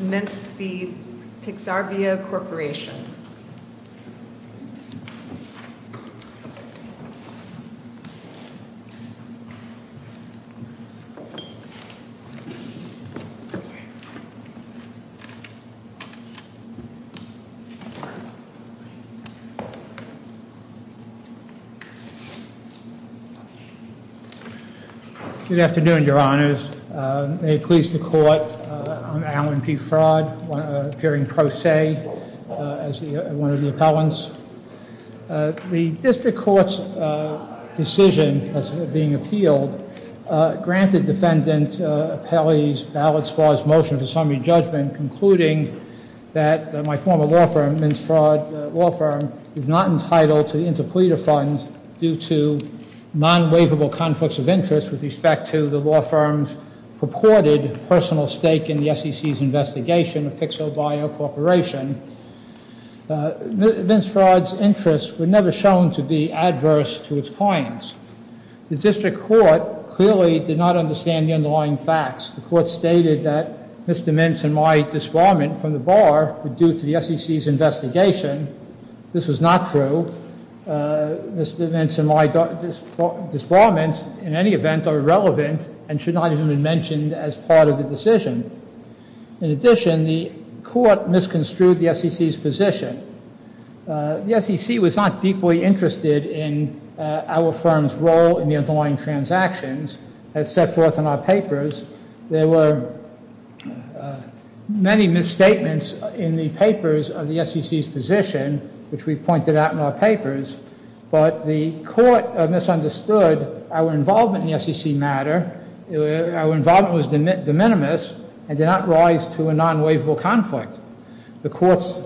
Mintz v. Pixarbio Corporation Good afternoon, your honors. May it please the court, I'm Alan Defraud, appearing pro se as the Attorney General of the U.S. Department of Justice. I'm one of the appellants. The district court's decision being appealed granted Defendant Apelli's ballot-sparse motion for summary judgment concluding that my former law firm, Mintz Fraud Law Firm, is not entitled to the Interpreter Fund due to non-waivable conflicts of interest with respect to the law firm's purported personal stake in the SEC's investigation of Pixarbio Corporation. Mintz Fraud's interests were never shown to be adverse to its clients. The district court clearly did not understand the underlying facts. The court stated that Mr. Mintz and my disbarment from the bar were due to the SEC's investigation. This was not true. Mr. Mintz and my disbarment in any event are irrelevant and should not even be mentioned as part of the decision. In addition, the court misconstrued the SEC's position. The SEC was not deeply interested in our firm's role in the underlying transactions as set forth in our papers. There were many misstatements in the papers of the SEC's position, which we've pointed out in our papers, but the court misunderstood our involvement in the SEC matter. Our involvement was de minimis and did not rise to a non-waivable conflict. The court's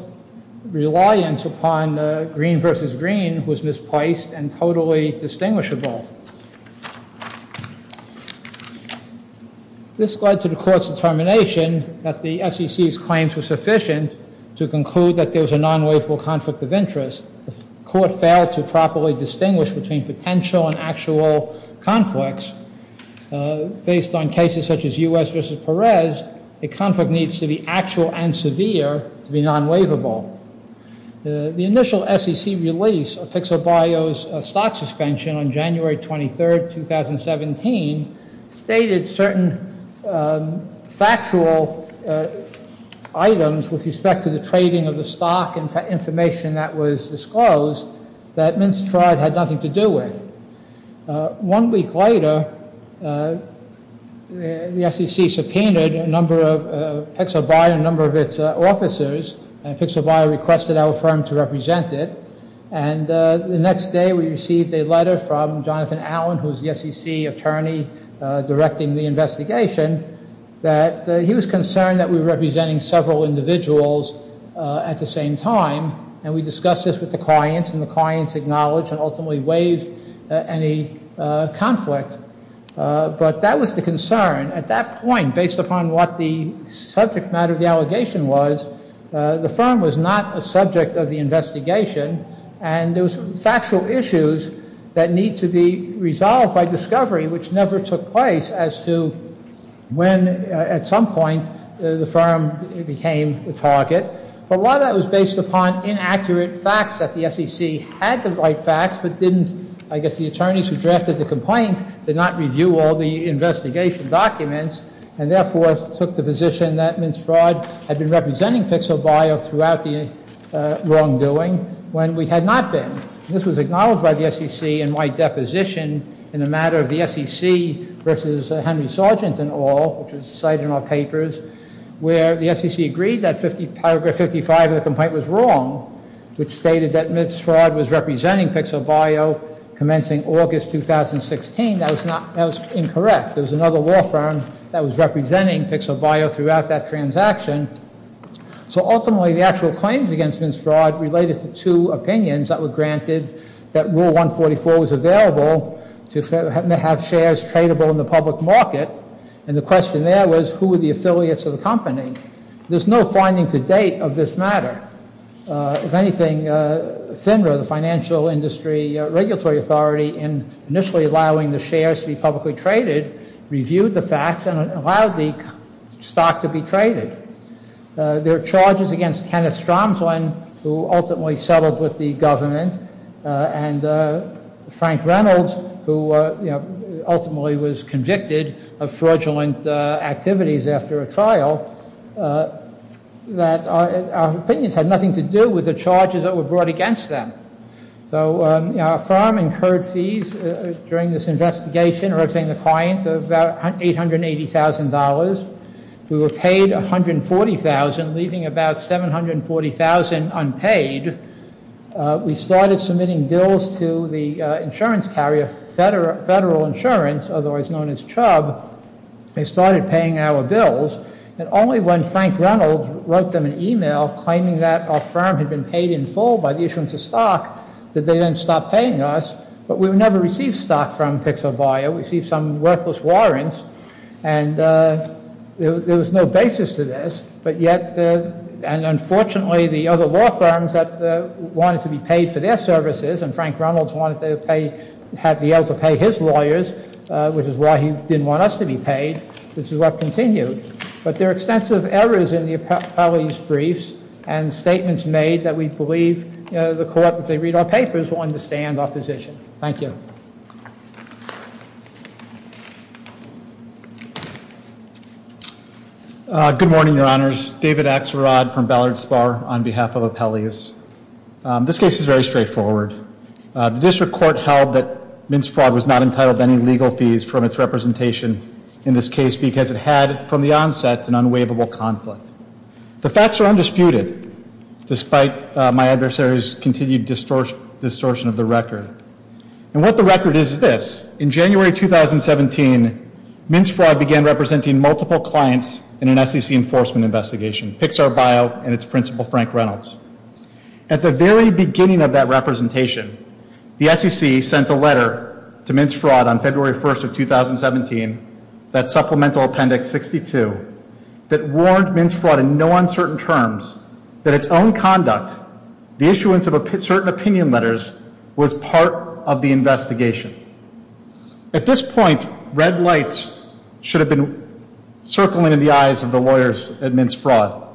reliance upon green versus green was misplaced and totally distinguishable. This led to the court's determination that the SEC's claims were sufficient to conclude that there was a non-waivable conflict of interest. The court failed to properly distinguish between potential and actual conflicts. Based on cases such as U.S. v. Perez, the conflict needs to be actual and severe to be non-waivable. The initial SEC release of Pixel Bio's stock suspension on January 23, 2017, stated certain factual items with respect to the trading of the stock and information that was disclosed that Minstrad had nothing to do with. One week later, the SEC subpoenaed a number of Pixel Bio and a number of its officers, and Pixel Bio requested our firm to represent it. The next day we received a letter from Jonathan Allen, who is the SEC attorney directing the investigation, that he was concerned that we were representing several individuals at the same time, and we discussed this with the clients, and the clients acknowledged and ultimately waived any conflict. But that was the concern. At that point, based upon what the subject matter of the allegation was, the firm was not a subject of the investigation, and there was factual issues that need to be resolved by discovery, which never took place, as to when, at some point, the firm became the target. But a lot of that was based upon inaccurate facts that the SEC had the right facts, but didn't, I guess the attorneys who drafted the complaint did not review all the investigation documents, and therefore took the position that Minstrad had been wrong. This was acknowledged by the SEC in my deposition in the matter of the SEC versus Henry Sargent and all, which was cited in our papers, where the SEC agreed that paragraph 55 of the complaint was wrong, which stated that Minstrad was representing Pixel Bio commencing August 2016. That was incorrect. There was another law firm that was representing Pixel Bio throughout that transaction. So ultimately, the actual claims against Minstrad related to two opinions that were granted that Rule 144 was available to have shares tradable in the public market. And the question there was, who were the affiliates of the company? There's no finding to date of this matter. If anything, FINRA, the Financial Industry Regulatory Authority, in initially allowing the shares to be publicly traded, reviewed the facts and allowed the stock to be traded. There are charges against Kenneth Stromsland, who ultimately settled with the government, and Frank Reynolds, who ultimately was convicted of fraudulent activities after a trial, that our opinions had nothing to do with the charges that were brought against them. So our firm incurred fees during this investigation, representing the client, about $880,000. We were paid $140,000, leaving about $740,000 unpaid. We started submitting bills to the insurance carrier, Federal Insurance, otherwise known as CHUBB. They started paying our bills. And only when Frank Reynolds wrote them an email claiming that our firm had been paid in full by the issuance of stock did they then stop paying us. But we never received stock from Pixel Buyer. We received some worthless warrants. And there was no basis to this. And unfortunately, the other law firms that wanted to be paid for their services, and Frank Reynolds had to be able to pay his lawyers, which is why he didn't want us to be paid. This is what continued. But there are extensive errors in the appellees' briefs and statements made that we believe the court, if they read our papers, will understand our position. Thank you. Good morning, Your Honors. David Axelrod from Ballard Spahr on behalf of appellees. This case is very straightforward. The district court held that Mintz Fraud was not entitled to any legal fees from its representation in this case because it had, from the onset, an unwaivable conflict. The facts are undisputed, despite my adversary's continued distortion of the record. And what the record is, is this. In January 2017, Mintz Fraud began representing multiple clients in an SEC enforcement investigation, Pixar Bio and its principal, Frank Reynolds. At the very beginning of that representation, the SEC sent a letter to Mintz Fraud on February 1st of 2017, that Supplemental Appendix 62, that warned Mintz Fraud in no uncertain terms that its own conduct, the issuance of certain opinion letters, was part of the investigation. At this point, red lights should have been circling in the eyes of the lawyers at Mintz Fraud.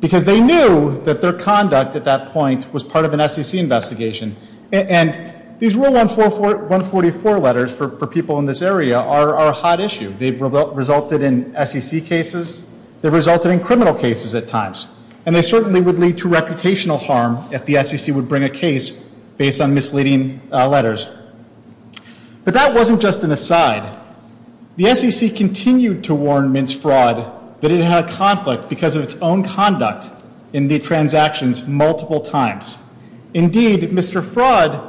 Because they knew that their conduct at that point was part of an SEC investigation. And these Rule 144 letters for people in this area are a hot issue. They've resulted in SEC cases. They've resulted in criminal cases at times. And they certainly would lead to reputational harm if the SEC would bring a case based on misleading letters. But that wasn't just an aside. The SEC continued to warn Mintz Fraud that it had a conflict because of its own conduct in the transactions multiple times. Indeed, Mr. Fraud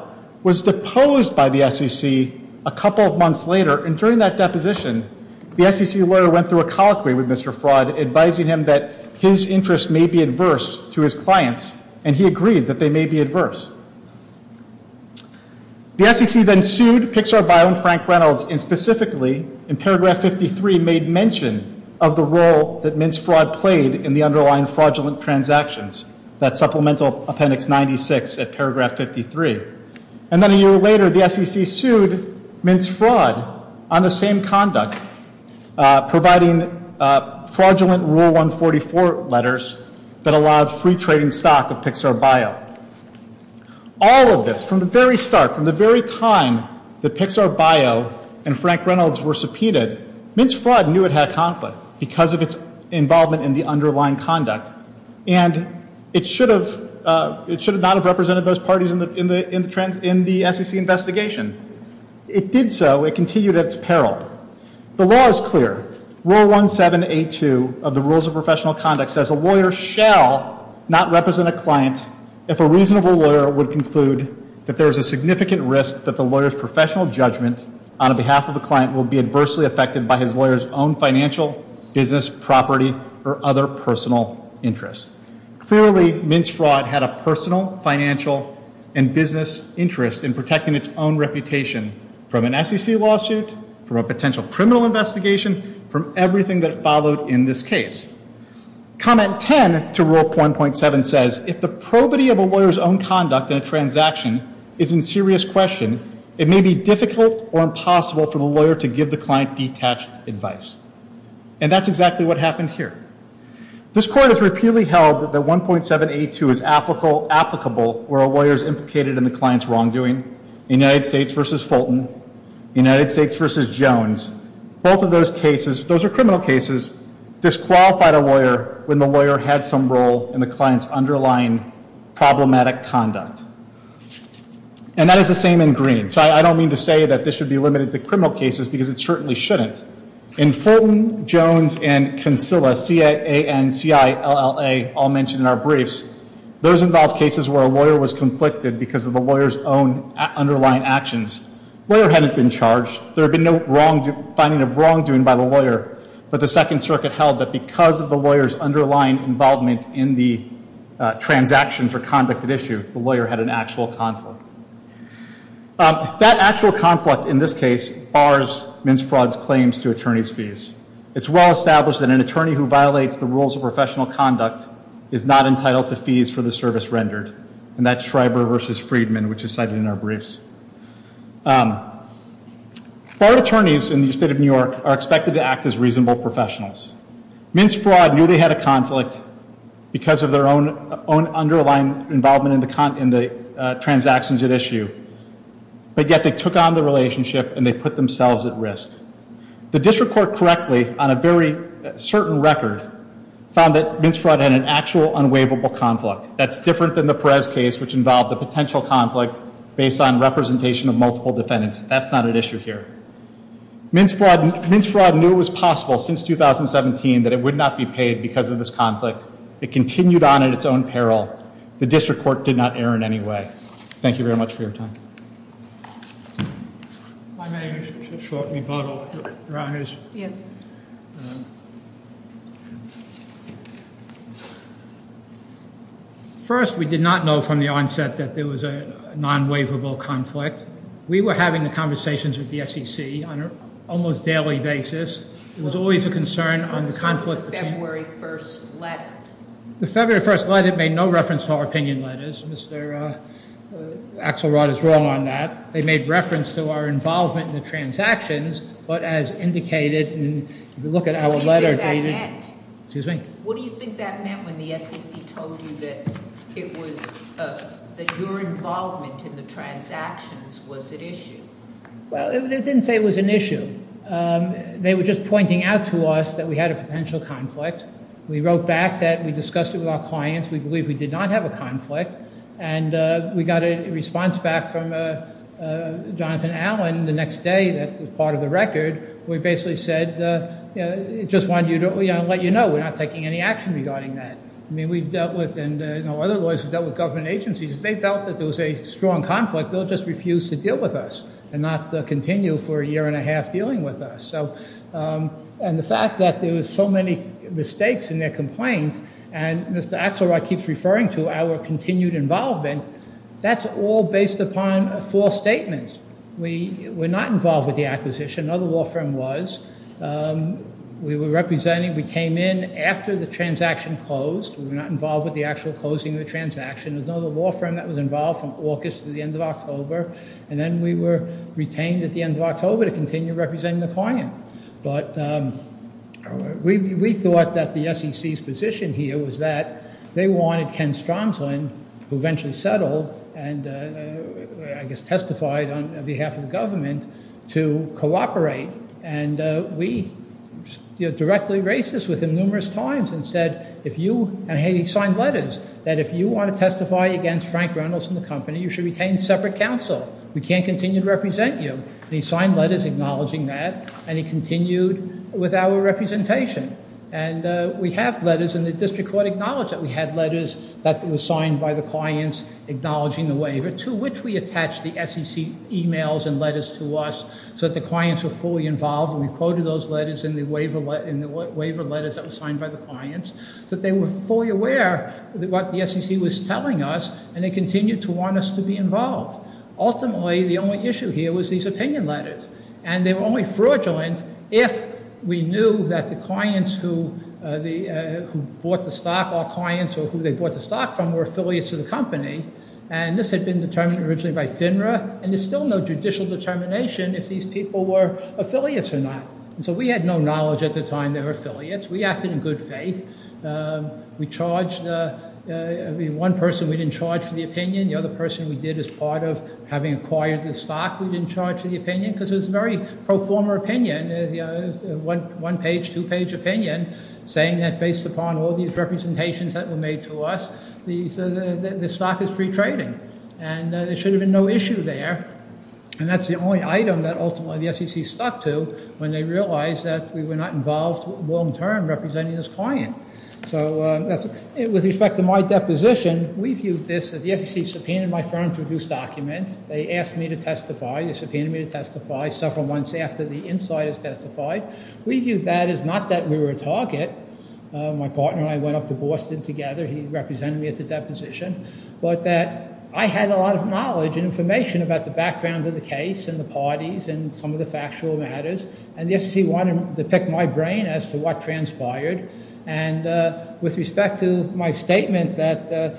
was deposed by the SEC a couple of months later. And during that deposition, the SEC lawyer went through a colloquy with Mr. Fraud, advising him that his interests may be adverse to his clients. And he agreed that they may be adverse. The SEC then sued Pixar Bio and Frank Reynolds, and specifically in paragraph 53 made mention of the role that Mintz Fraud played in the underlying fraudulent transactions. That's Supplemental Appendix 96 at paragraph 53. And then a year later, the SEC sued Mintz Fraud on the same four letters that allowed free trading stock of Pixar Bio. All of this, from the very start, from the very time that Pixar Bio and Frank Reynolds were subpoenaed, Mintz Fraud knew it had a conflict because of its involvement in the underlying conduct. And it should have not have represented those parties in the SEC investigation. It did so. It continued at its peril. The law is clear. Rule 1782 of the Rules of Professional Conduct says a lawyer shall not represent a client if a reasonable lawyer would conclude that there is a significant risk that the lawyer's professional judgment on behalf of the client will be adversely affected by his lawyer's own financial, business, property, or other personal interests. Clearly, Mintz Fraud had a personal, financial, and business interest in protecting its own reputation from an SEC lawsuit, from a potential criminal investigation, from everything that followed in this case. Comment 10 to Rule 1.7 says if the probity of a lawyer's own conduct in a transaction is in serious question, it may be difficult or impossible for the lawyer to give the client detached advice. And that's exactly what happened here. This Court has found that in the United States v. Fulton, United States v. Jones, both of those cases, those are criminal cases, disqualified a lawyer when the lawyer had some role in the client's underlying problematic conduct. And that is the same in Green. So I don't mean to say that this should be limited to criminal cases because it certainly shouldn't. In Fulton, Jones, and Consilla, C-A-N-C-I-L-L-A, all mentioned in our briefs, those involve cases where a lawyer was conflicted because of the lawyer's own underlying actions. Lawyer hadn't been charged. There had been no wrong, finding of wrongdoing by the lawyer. But the Second Circuit held that because of the lawyer's underlying involvement in the transactions or conduct at issue, the lawyer had an actual conflict. That actual conflict, in this case, bars Mintz Fraud's claims to professional conduct is not entitled to fees for the service rendered. And that's Schreiber v. Friedman, which is cited in our briefs. Barred attorneys in the State of New York are expected to act as reasonable professionals. Mintz Fraud knew they had a conflict because of their own underlying involvement in the transactions at issue. But yet they took on the relationship and they put themselves at risk. The District Court correctly, on a very certain record, found that Mintz Fraud had an actual unwaivable conflict. That's different than the Perez case, which involved a potential conflict based on representation of multiple defendants. That's not at issue here. Mintz Fraud knew it was possible since 2017 that it would not be paid because of this conflict. It continued on at its own peril. The District Court did not err in any way. Thank you very much for your time. First, we did not know from the onset that there was a non-waivable conflict. We were having the conversations with the SEC on an almost daily basis. It was always a concern on the conflict between... Mr. Axelrod is wrong on that. They made reference to our involvement in the transactions, but as indicated... What do you think that meant when the SEC told you that your involvement in the transactions was at issue? They didn't say it was an issue. They were just pointing out to us that we had a potential conflict. We wrote back that we discussed it with our clients. We believe we did not have a conflict. We got a response back from Jonathan Allen the next day that was part of the record. We basically said, we're not taking any action regarding that. Other lawyers have dealt with government agencies. If they felt that there was a strong conflict, they'll just refuse to deal with us and not continue for a year and a half dealing with us. The fact that there were so many mistakes in their complaint, and Mr. Axelrod keeps referring to our continued involvement, that's all based upon false statements. We were not involved with the acquisition. Another law firm was. We came in after the transaction closed. We were not involved with the actual closing of the transaction. There's another law firm that was involved from August to the end of October. Then we were retained at the end of October to continue representing the client. We thought that the SEC's position here was that they wanted Ken Stromsland, who eventually settled and testified on behalf of the government, to cooperate. We directly raised this with him numerous times and said, hey, he signed letters, that if you want to testify against Frank Reynolds and the company, you should retain separate counsel. We can't continue to represent you. He signed letters acknowledging that, and he continued with our representation. We have letters, and the district court acknowledged that we had letters that were signed by the clients acknowledging the waiver, to which we attached the SEC emails and letters to us so that the clients were fully involved. We quoted those letters in the waiver letters that were signed by the clients so that they were fully aware of what the SEC was telling us, and they continued to want us to be involved. Ultimately, the only issue here was these opinion letters, and they were only fraudulent if we knew that the clients who bought the stock, our clients or who they bought the stock from, were affiliates of the company, and this had been determined originally by FINRA, and there's still no judicial determination if these people were affiliates or not. So we had no knowledge at the time they were affiliates. We acted in good faith. We charged one person we didn't charge for the opinion. The other person we did as part of having acquired the stock we didn't charge for the opinion, because it was a very pro-former opinion, one-page, two-page opinion, saying that based upon all these representations that were made to us, the stock is free trading, and there should have been no issue there, and that's the only item that ultimately the SEC stuck to when they realized that we were not involved long-term representing this client. So with respect to my deposition, we viewed this as the SEC subpoenaed my firm to produce documents. They asked me to testify. They subpoenaed me to the market. My partner and I went up to Boston together. He represented me at the deposition, but that I had a lot of knowledge and information about the background of the case and the parties and some of the factual matters, and the SEC wanted to pick my brain as to what transpired, and with respect to my statement that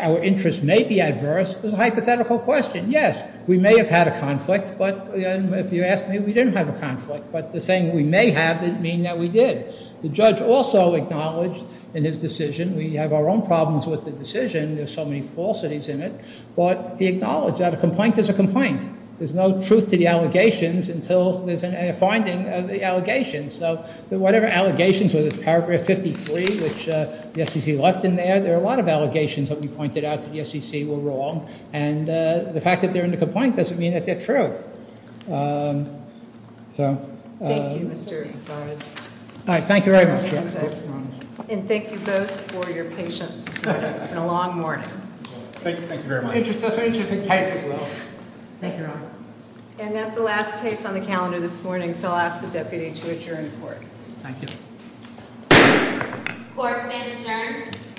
our interests may be adverse, it was a hypothetical question. Yes, we may have had a conflict, but if you ask me, we didn't have a conflict, but the saying we may have didn't mean that we did. The judge also acknowledged in his decision, we have our own problems with the decision, there's so many falsities in it, but he acknowledged that a complaint is a complaint. There's no truth to the allegations until there's a finding of the allegations. So whatever allegations, whether it's paragraph 53, which the SEC left in there, there are a lot of allegations that we can't prove. Thank you very much. And thank you both for your patience this morning. It's been a long morning. And that's the last case on the calendar this morning, so I'll ask the deputy to adjourn the court. Court stands adjourned.